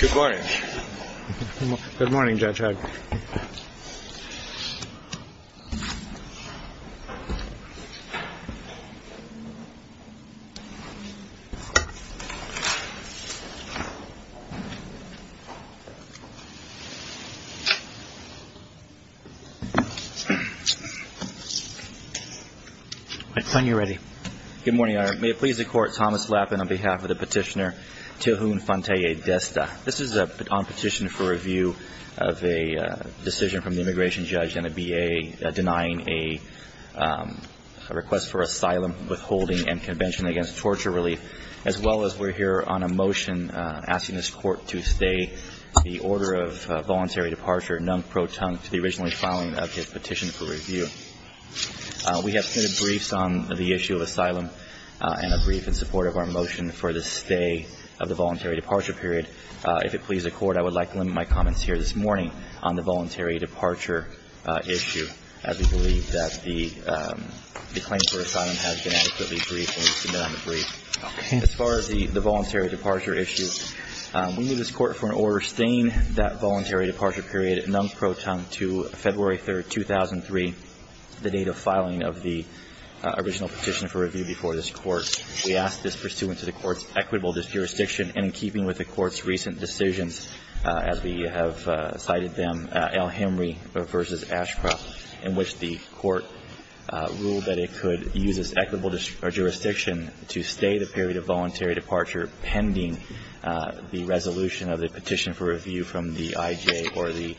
Good morning. Good morning, Judge Hugg. Good morning, Your Honor. May it please the Court, Thomas Flappin on behalf of the petitioner Tihun Fanteye-Desta. This is on petition for review of a decision from the immigration judge and a B.A. denying a request for asylum, withholding, and convention against torture relief, as well as we're here on a motion asking this Court to stay the order of voluntary departure non-pro-tunct to the originally filing of his petition for review. We have submitted briefs on the issue of asylum and a brief in support of our motion for the stay of the voluntary departure period. If it please the Court, I would like to limit my comments here this morning on the voluntary departure issue, as we believe that the claim for asylum has been adequately briefed and we submit on the brief. As far as the voluntary departure issue, we move this Court for an order staying that voluntary departure period non-pro-tunct to February 3rd, 2003, the date of filing of the original petition for review before this Court. We ask this pursuant to the Court's equitable jurisdiction and in keeping with the Court's recent decisions as we have cited them, Al-Hemry v. Ashcroft, in which the Court ruled that it could use its equitable jurisdiction to stay the period of voluntary departure pending the resolution of the petition for review from the I.J. or the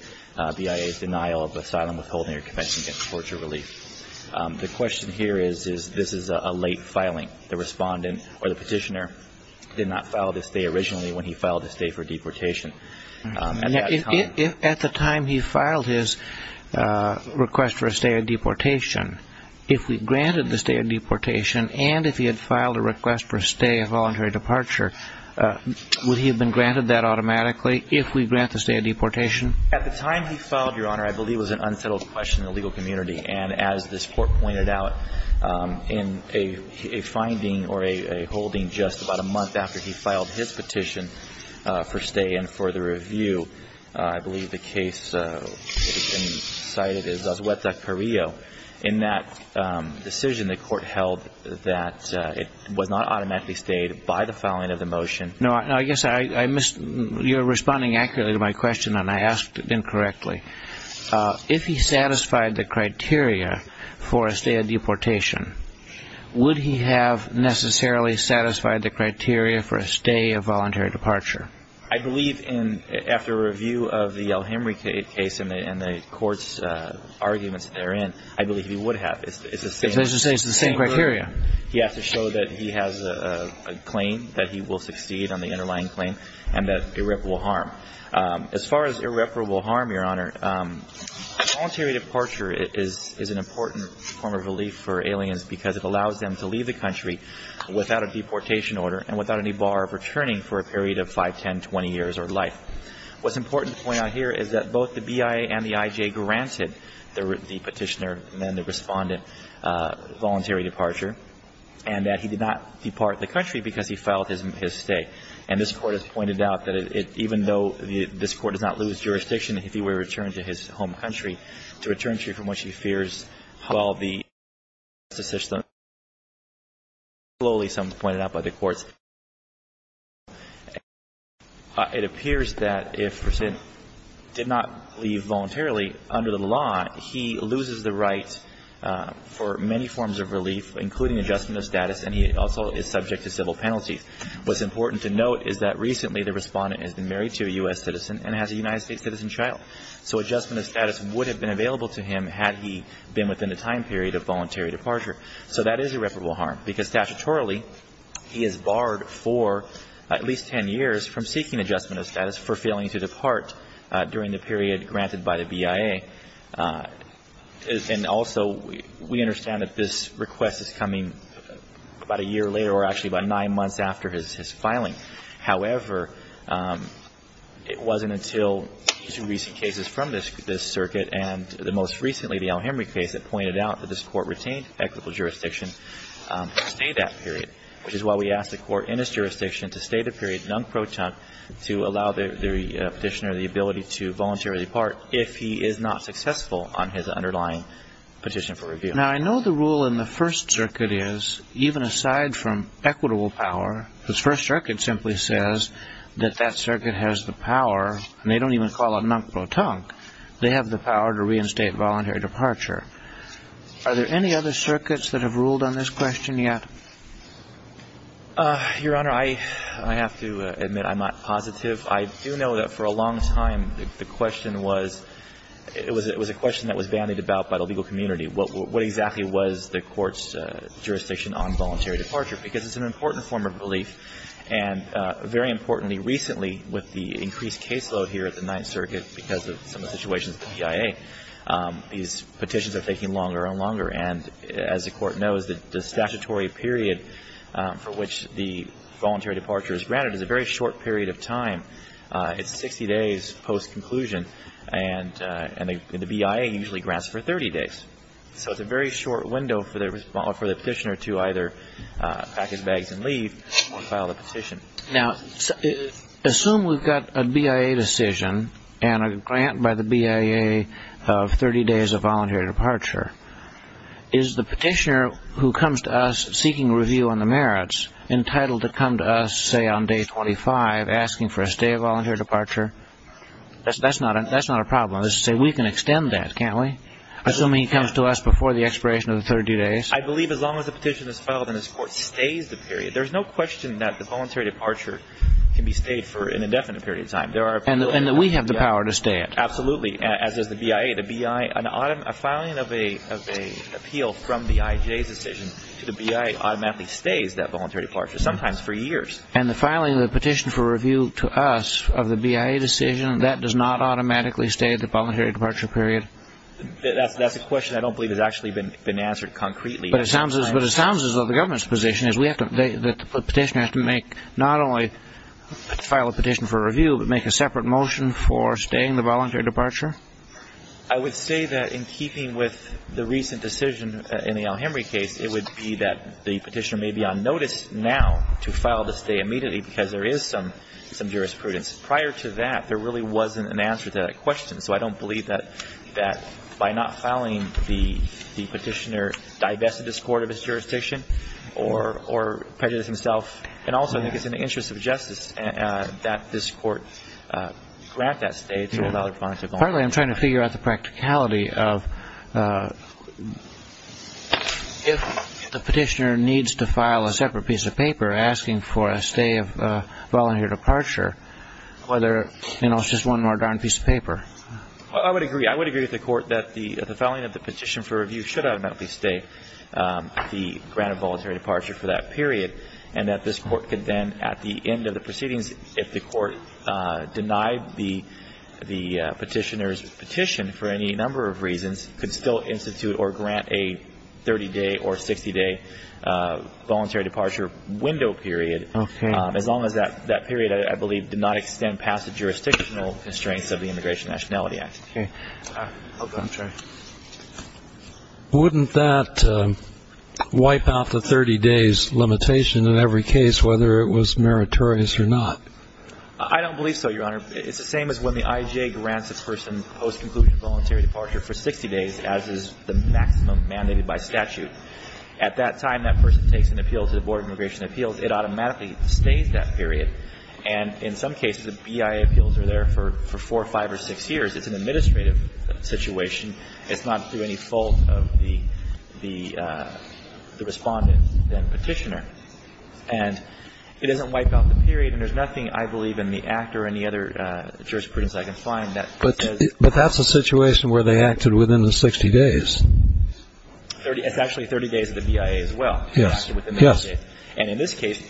B.I.A.'s denial of asylum, withholding, or convention against torture relief. The question here is, is this is a late filing. The Respondent or the Petitioner did not file this day originally when he filed this day for deportation. At the time he filed his request for a stay of deportation, if we granted the stay of deportation and if he had filed a request for a stay of voluntary departure, would he have been granted that automatically if we grant the stay of deportation? At the time he filed, Your Honor, I believe it was an unsettled question in the legal community. And as this Court pointed out, in a finding or a holding just about a month after he filed his petition for stay and for the review, I believe the case has been cited as Azueta Carrillo. In that decision, the Court held that it was not automatically stayed by the filing of the motion. No, I guess I missed, you're responding accurately to my question and I asked it incorrectly. If he satisfied the criteria for a stay of deportation, would he have necessarily satisfied the criteria for a stay of voluntary departure? I believe after a review of the El Hemry case and the Court's arguments therein, I believe he would have. It's the same criteria. He has to show that he has a claim, that he will succeed on the underlying claim, and that irreparable harm. As far as irreparable harm, Your Honor, voluntary departure is an important form of relief for aliens because it allows them to leave the country without a deportation order and without any bar of returning for a period of 5, 10, 20 years or life. What's important to point out here is that both the BIA and the IJ granted the petitioner and then the respondent voluntary departure, and that he did not depart the country because he filed his stay. And this Court has pointed out that even though this Court does not lose jurisdiction if he were to return to his home country, to return to it from which he fears while the justice system is in place, as slowly, as some have pointed out, by the courts in the U.S., it appears that if a person did not leave voluntarily under the law, he loses the right for many forms of relief, including adjustment of status, and he also is subject to civil penalties. What's important to note is that recently the respondent has been married to a U.S. citizen and has a United States citizen child. So adjustment of status would have been available to him had he been within the time period of voluntary departure. So that is irreparable harm, because statutorily, he is barred for at least 10 years from seeking adjustment of status for failing to depart during the period granted by the BIA. And also, we understand that this request is coming about a year later or actually about nine months after his filing. However, it wasn't until two recent cases from this circuit and the most recently, the El Hemry case, that pointed out that this court retained equitable jurisdiction to stay that period, which is why we asked the court in its jurisdiction to stay the period non-protunct to allow the petitioner the ability to voluntarily depart if he is not successful on his underlying petition for review. Now, I know the rule in the First Circuit is, even aside from equitable power, the First Circuit simply says that that circuit has the power, and they don't even call it non-protunct. They have the power to reinstate voluntary departure. Are there any other circuits that have ruled on this question yet? Your Honor, I have to admit I'm not positive. I do know that for a long time, the question was, it was a question that was bandied about by the legal community. What exactly was the court's jurisdiction on voluntary departure? Because it's an important form of relief, and very importantly, recently, with the increased caseload here at the Ninth Circuit because of some of the situations with the BIA, these petitions are taking longer and longer. And as the court knows, the statutory period for which the voluntary departure is granted is a very short period of time. It's 60 days post-conclusion, and the BIA usually grants it for 30 days. So it's a very short window for the petitioner to either pack his bags and leave or file the petition. Now, assume we've got a BIA decision and a grant by the BIA of 30 days of voluntary departure. Is the petitioner who comes to us seeking review on the merits entitled to come to us, say, on day 25 asking for a stay of voluntary departure? That's not a problem. We can extend that, can't we? Assuming he comes to us before the expiration of the 30 days? I believe as long as the petition is filed and this court stays the period, there's no question that the voluntary departure can be stayed for an indefinite period of time. And that we have the power to stay it? Absolutely. As does the BIA. A filing of an appeal from the IJ's decision to the BIA automatically stays that voluntary departure, sometimes for years. And the filing of the petition for review to us of the BIA decision, that does not automatically stay the voluntary departure period? That's a question I don't believe has actually been answered concretely. But it sounds as though the government's position is that the petitioner has to make not only file a petition for review, but make a separate motion for staying the voluntary departure? I would say that in keeping with the recent decision in the Alhambra case, it would be that the petitioner may be on notice now to file the stay immediately because there is some jurisprudence. Prior to that, there really wasn't an answer to that question. So I don't believe that by not filing the petitioner has divested this court of its jurisdiction or prejudiced himself. And also I think it's in the interest of justice that this court grant that stay to allow the voluntary departure. Partly I'm trying to figure out the practicality of if the petitioner needs to file a separate piece of paper asking for a stay of voluntary departure, whether it's just one more darn piece of paper. I would agree. I would agree with the court that the filing of the petition for the granted voluntary departure for that period, and that this court could then at the end of the proceedings, if the court denied the petitioner's petition for any number of reasons, could still institute or grant a 30-day or 60-day voluntary departure window period. As long as that period, I believe, did not extend past the jurisdictional constraints of the Immigration and Nationality Act. Okay. I'll go. I'm sorry. Wouldn't that wipe out the 30-days limitation in every case, whether it was meritorious or not? I don't believe so, Your Honor. It's the same as when the IJ grants a person post-conclusion voluntary departure for 60 days, as is the maximum mandated by statute. At that time, that person takes an appeal to the Board of Immigration Appeals. It automatically stays that period. And in some cases, the BIA appeals are there for four, five, or six years. It's an administrative situation. It's not through any fault of the respondent, the petitioner. And it doesn't wipe out the period. And there's nothing, I believe, in the Act or any other jurisprudence I can find that says... But that's a situation where they acted within the 60 days. It's actually 30 days of the BIA as well. Yes. And in this case,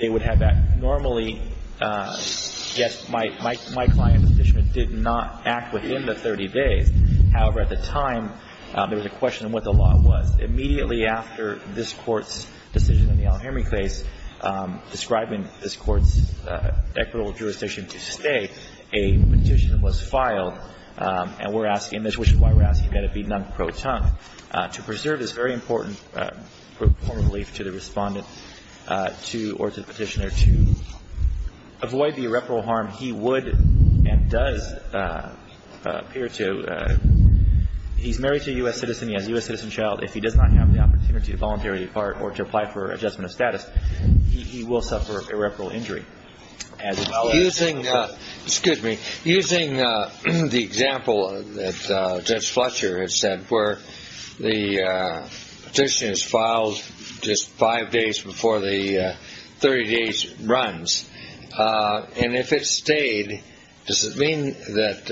they would have that. Normally, yes, my client's petition did not act within the 30 days. However, at the time, there was a question of what the law was. Immediately after this Court's decision in the Al-Hemry case describing this Court's equitable jurisdiction to stay, a petition was filed. And we're asking this, which is why we're asking that it be non-pro-tongue. To preserve this very important form of relief to the respondent or to the petitioner to avoid the irreparable harm he would and does appear to. He's married to a U.S. citizen. He has a U.S. citizen child. If he does not have the opportunity to voluntarily depart or to apply for adjustment of status, he will suffer irreparable injury. Excuse me. Using the example that Judge Fletcher has said where the petition is filed just five days before the 30 days runs, and if it stayed, does it mean that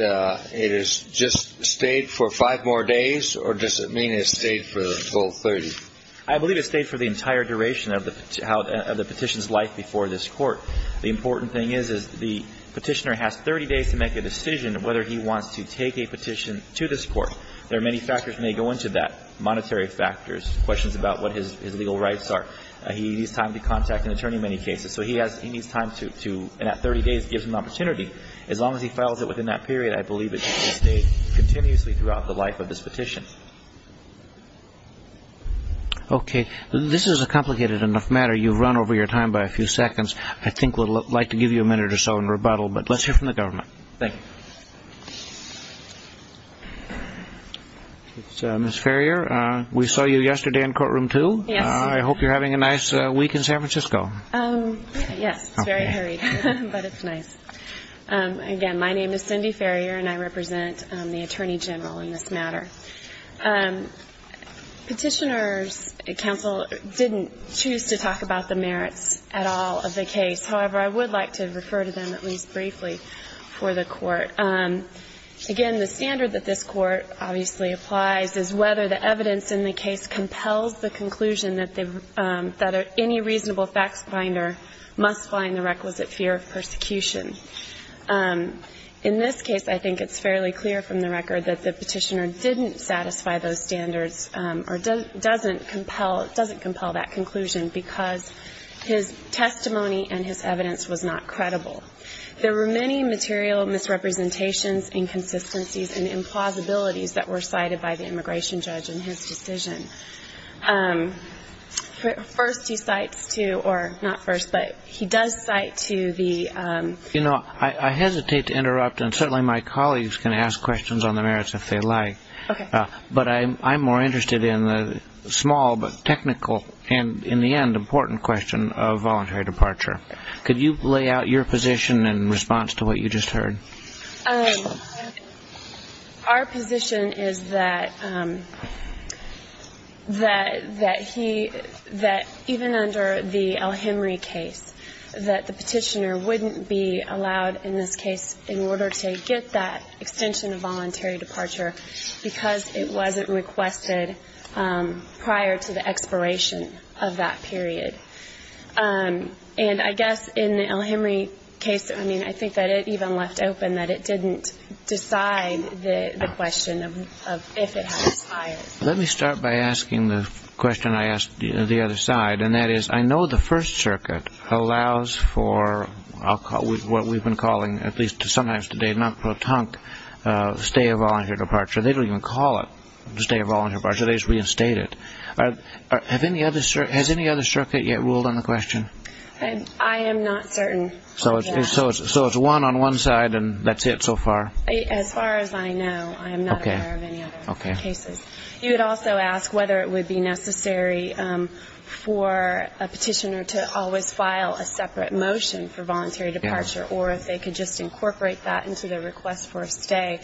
it has just stayed for five more days or does it mean it stayed for the full 30? I believe it stayed for the entire duration of the petition's life before this Court. The important thing is the petitioner has 30 days to make a decision whether he wants to take a petition to this Court. There are many factors may go into that, monetary factors, questions about what his legal rights are. He needs time to contact an attorney in many cases. So he needs time to, and that 30 days gives him an opportunity. As long as he files it within that period, I believe it should stay continuously throughout the life of this petition. Okay. This is a complicated enough matter. You've run over your time by a few seconds. I think we'd like to give you a minute or so in rebuttal, but let's hear from the government. Thank you. Ms. Farrier, we saw you yesterday in courtroom two. I hope you're having a nice week in San Francisco. Yes. It's very hurried, but it's nice. Again, my name is Cindy Farrier and I represent the Attorney General in this matter. Petitioners, counsel, didn't choose to talk about the merits at all of the case. However, I would like to refer to them at least briefly for the Court. Again, the standard that this Court obviously applies is whether the evidence in the case compels the conclusion that any reasonable facts finder must find the requisite fear of persecution. In this case, I think it's fairly clear from the record that the petitioner didn't satisfy those standards or doesn't compel that conclusion. Because his testimony and his evidence was not credible. There were many material misrepresentations, inconsistencies, and implausibilities that were cited by the immigration judge in his decision. First, he cites to, or not first, but he does cite to the... You know, I hesitate to interrupt, and certainly my colleagues can ask questions on the merits if they like. Okay. But I'm more interested in the small but technical and, in the end, important question of voluntary departure. Could you lay out your position in response to what you just heard? Our position is that even under the El Hemry case, that the petitioner wouldn't be allowed, in this case, in order to get that extension of voluntary departure, because it wasn't requested prior to the expiration of that period. And I guess in the El Hemry case, I mean, I think that it even left open that it didn't decide the question of if it had expired. Let me start by asking the question I asked the other side, and that is, I know the First Circuit allows for what we've been calling, at least sometimes today, non-protunct stay of voluntary departure. They don't even call it stay of voluntary departure. They just reinstate it. Has any other circuit yet ruled on the question? I am not certain. So it's one on one side, and that's it so far? As far as I know, I am not aware of any other cases. You would also ask whether it would be necessary for a petitioner to always file a separate motion for voluntary departure, or if they could just incorporate that into their request for a stay.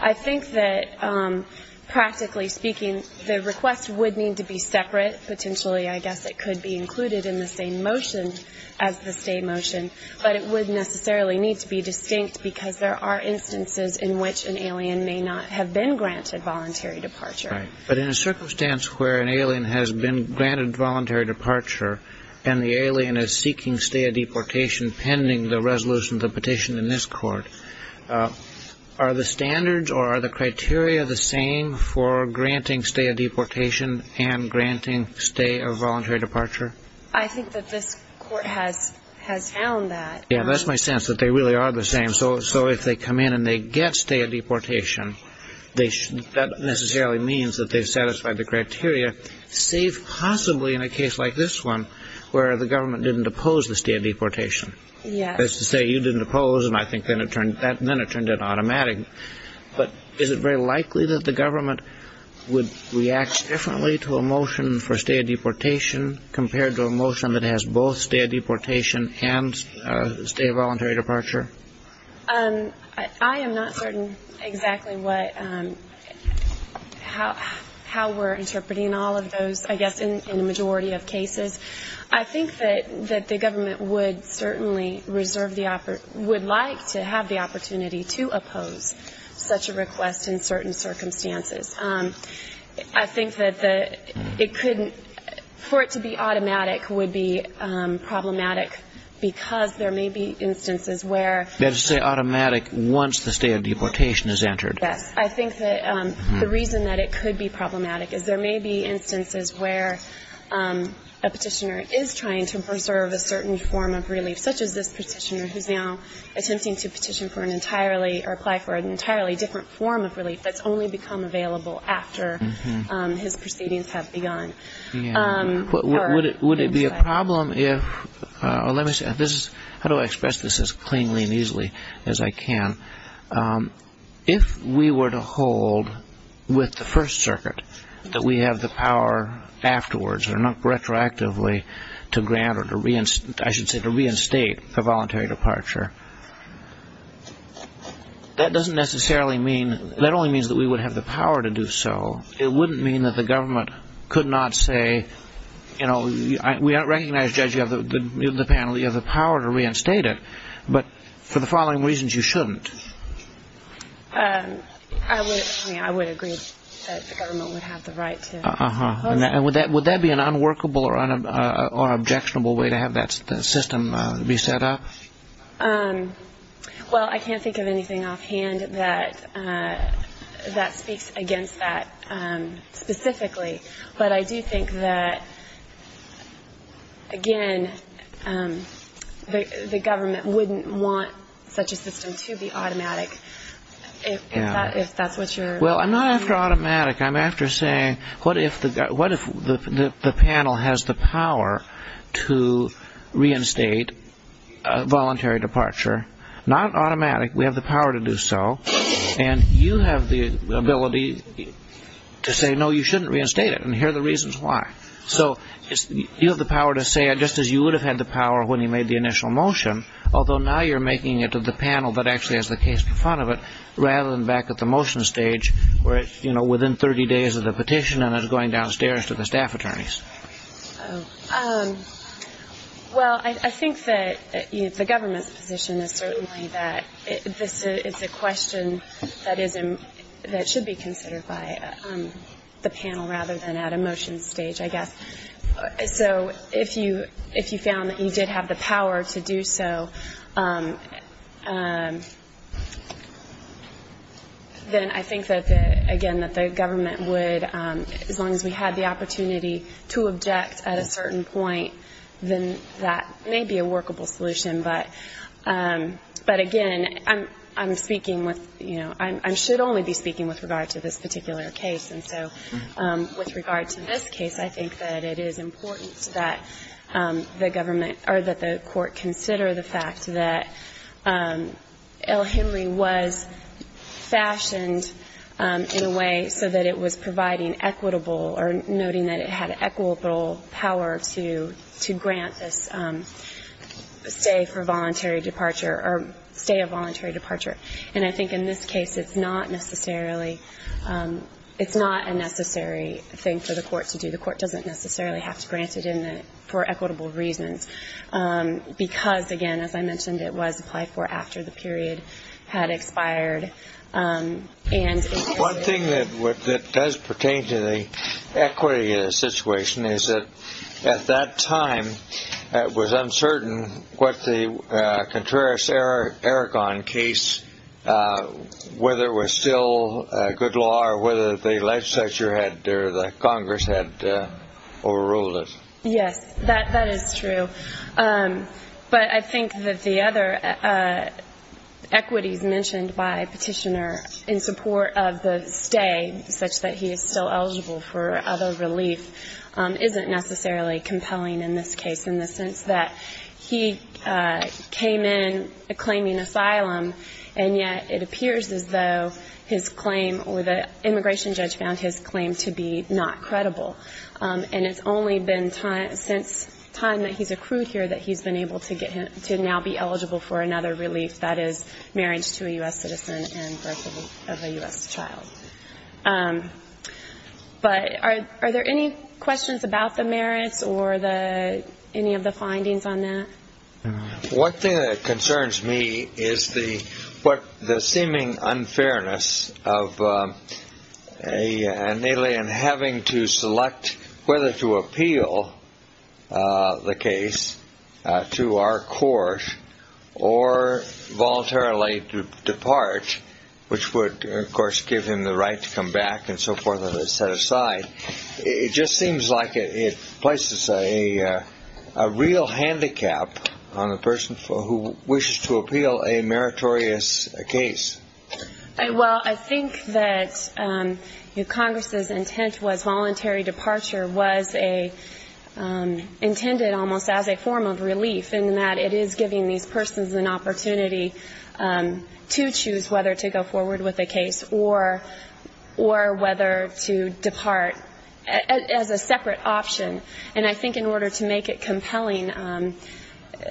I think that, practically speaking, the request would need to be separate. Potentially, I guess it could be included in the same motion as the stay motion. But it would necessarily need to be distinct, because there are instances in which an alien may not have been granted voluntary departure. But in a circumstance where an alien has been granted voluntary departure, and the alien is seeking stay of deportation pending the resolution of the this court, are the standards or are the criteria the same for granting stay of deportation and granting stay of voluntary departure? I think that this court has found that. Yeah, that's my sense, that they really are the same. So if they come in and they get stay of deportation, that necessarily means that they've satisfied the criteria, save possibly in a case like this one, where the government didn't oppose the stay of deportation. That is to say, you didn't oppose, and I think then it turned out automatic. But is it very likely that the government would react differently to a motion for stay of deportation compared to a motion that has both stay of deportation and stay of voluntary departure? I am not certain exactly what, how we're interpreting all of those, I guess, in a majority of cases. I think that the government would certainly reserve the, would like to have the opportunity to oppose such a request in certain circumstances. I think that it could, for it to be automatic would be problematic, because there may be instances where... That is to say, automatic once the stay of deportation is entered. Yes, I think that the reason that it could be problematic is there may be that the petitioner is trying to preserve a certain form of relief, such as this petitioner who is now attempting to petition for an entirely, or apply for an entirely different form of relief that's only become available after his proceedings have begun. Would it be a problem if, let me see, this is, how do I express this as cleanly and easily as I can? If we were to hold with the First Circuit that we have the power afterwards, or not retroactively, to grant, or I should say to reinstate, a voluntary departure, that doesn't necessarily mean, that only means that we would have the power to do so. It wouldn't mean that the government could not say, you know, we recognize, Judge, you have the panel, you have the power to reinstate it, but for the following reasons you shouldn't. Would that be an unworkable or objectionable way to have that system be set up? Well, I can't think of anything offhand that speaks against that specifically, but I do think that, again, the government wouldn't want such a system to be automatic, if that's what you're... Well, I'm not after automatic, I'm after saying, what if the panel has the power to reinstate a voluntary departure? Not automatic, we have the power to do so, and you have the ability to say, no, you shouldn't reinstate it, and here are the reasons why. So, you have the power to say, just as you would have had the power when you made the initial motion, although now you're making it to the panel that actually has the case in front of it, rather than back at the motion stage where it's within 30 days of the petition and it's going downstairs to the staff attorneys. Well, I think that the government's position is certainly that it's a question that should be considered by the panel rather than at a motion stage, I guess. So, if you found that you did have the power to do so, then I think that, again, that the government would, as long as we had the opportunity to object at a certain point, then that may be a workable solution, but, again, I'm speaking with... I should only be speaking with regard to this particular case, and so, with regard to this case, I think that it is important that the government, or that the court consider the fact that L. Henry was fashioned in a way so that it was providing equitable, or noting that it had equitable power to grant this stay for voluntary departure, or stay of voluntary departure. And I think in this case, it's not necessarily... It's not a necessary thing for the court to do. The court doesn't necessarily have to grant it for equitable reasons, because, again, as I mentioned, it was applied for after the period had expired. One thing that does pertain to the equity situation is that, at that time, it was uncertain what the Contreras-Aragon case, whether it was still good law, or whether the legislature had, or the Congress had overruled it. Yes, that is true. But I think that the other equities mentioned by Petitioner in support of the stay, such that he is still eligible for other relief, isn't necessarily compelling in this case, in the sense that he came in claiming asylum, and yet it appears as though his claim, or the immigration judge found his claim to be not credible. And it's only been since time that he's accrued here that he's been able to now be eligible for another relief, that is marriage to a U.S. citizen and birth of a U.S. child. But are there any questions about the merits or any of the findings on that? One thing that concerns me is the seeming unfairness of an alien having to select whether to appeal the case to our court or voluntarily to depart, which would, of course, give him the right to come back and so forth and set aside. It just seems like it places a real handicap on the person who wishes to appeal a meritorious case. Well, I think that Congress's intent was voluntary departure was intended almost as a form of relief, in that it is giving these persons an opportunity to choose whether to go forward with a case or whether to depart as a separate option. And I think in order to make it compelling,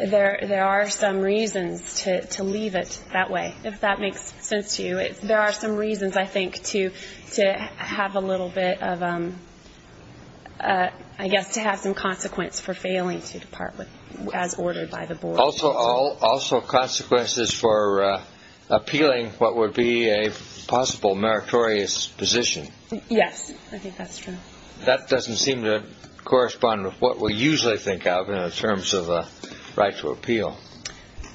there are some reasons to leave it that way, if that makes sense to you. There are some reasons, I think, to have a little bit of, I guess, to have some consequence for failing to depart as ordered by the board. Also consequences for appealing what would be a possible meritorious position. Yes, I think that's true. That doesn't seem to correspond with what we usually think of in terms of the right to appeal.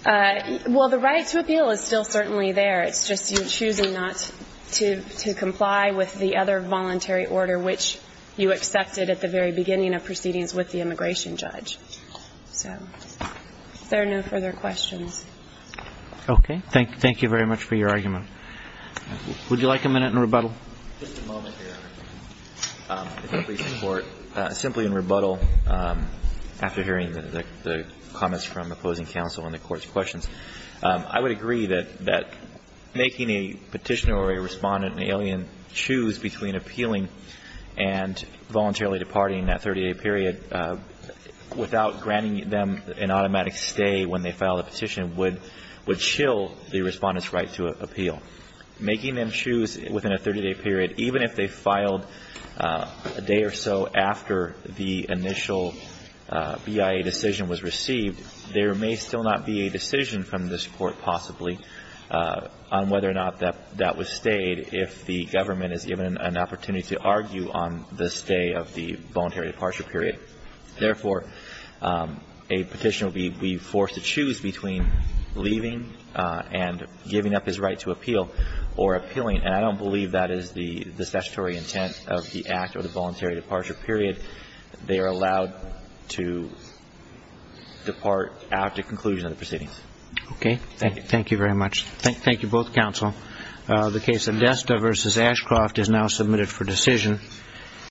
Well, the right to appeal is still certainly there. It's just you choosing not to comply with the other voluntary order, which you accepted at the very beginning of proceedings with the immigration judge. So, if there are no further questions. Okay. Thank you very much for your argument. Would you like a minute in rebuttal? Just a moment here. If I may, Your Honor. Simply in rebuttal, after hearing the comments from opposing counsel on the Court's questions, I would agree that making a petitioner or a respondent, an alien, choose between appealing and voluntarily departing in that 30-day period, without granting them an automatic stay when they file a petition, would chill the respondent's right to appeal. Making them choose within a 30-day period, even if they filed a day or so after the initial BIA decision was received, there may still not be a decision from this Court possibly on whether or not that was stayed if the government is given an opportunity to argue on the stay of the voluntary departure period. Therefore, a petitioner would be forced to choose between leaving and giving up his right to appeal or appealing. And I don't believe that is the statutory intent of the act or the voluntary departure period. They are allowed to depart after conclusion of the proceedings. Okay. Thank you. Thank you very much. Thank you, both counsel. The case of Desta v. Ashcroft is now submitted for decision.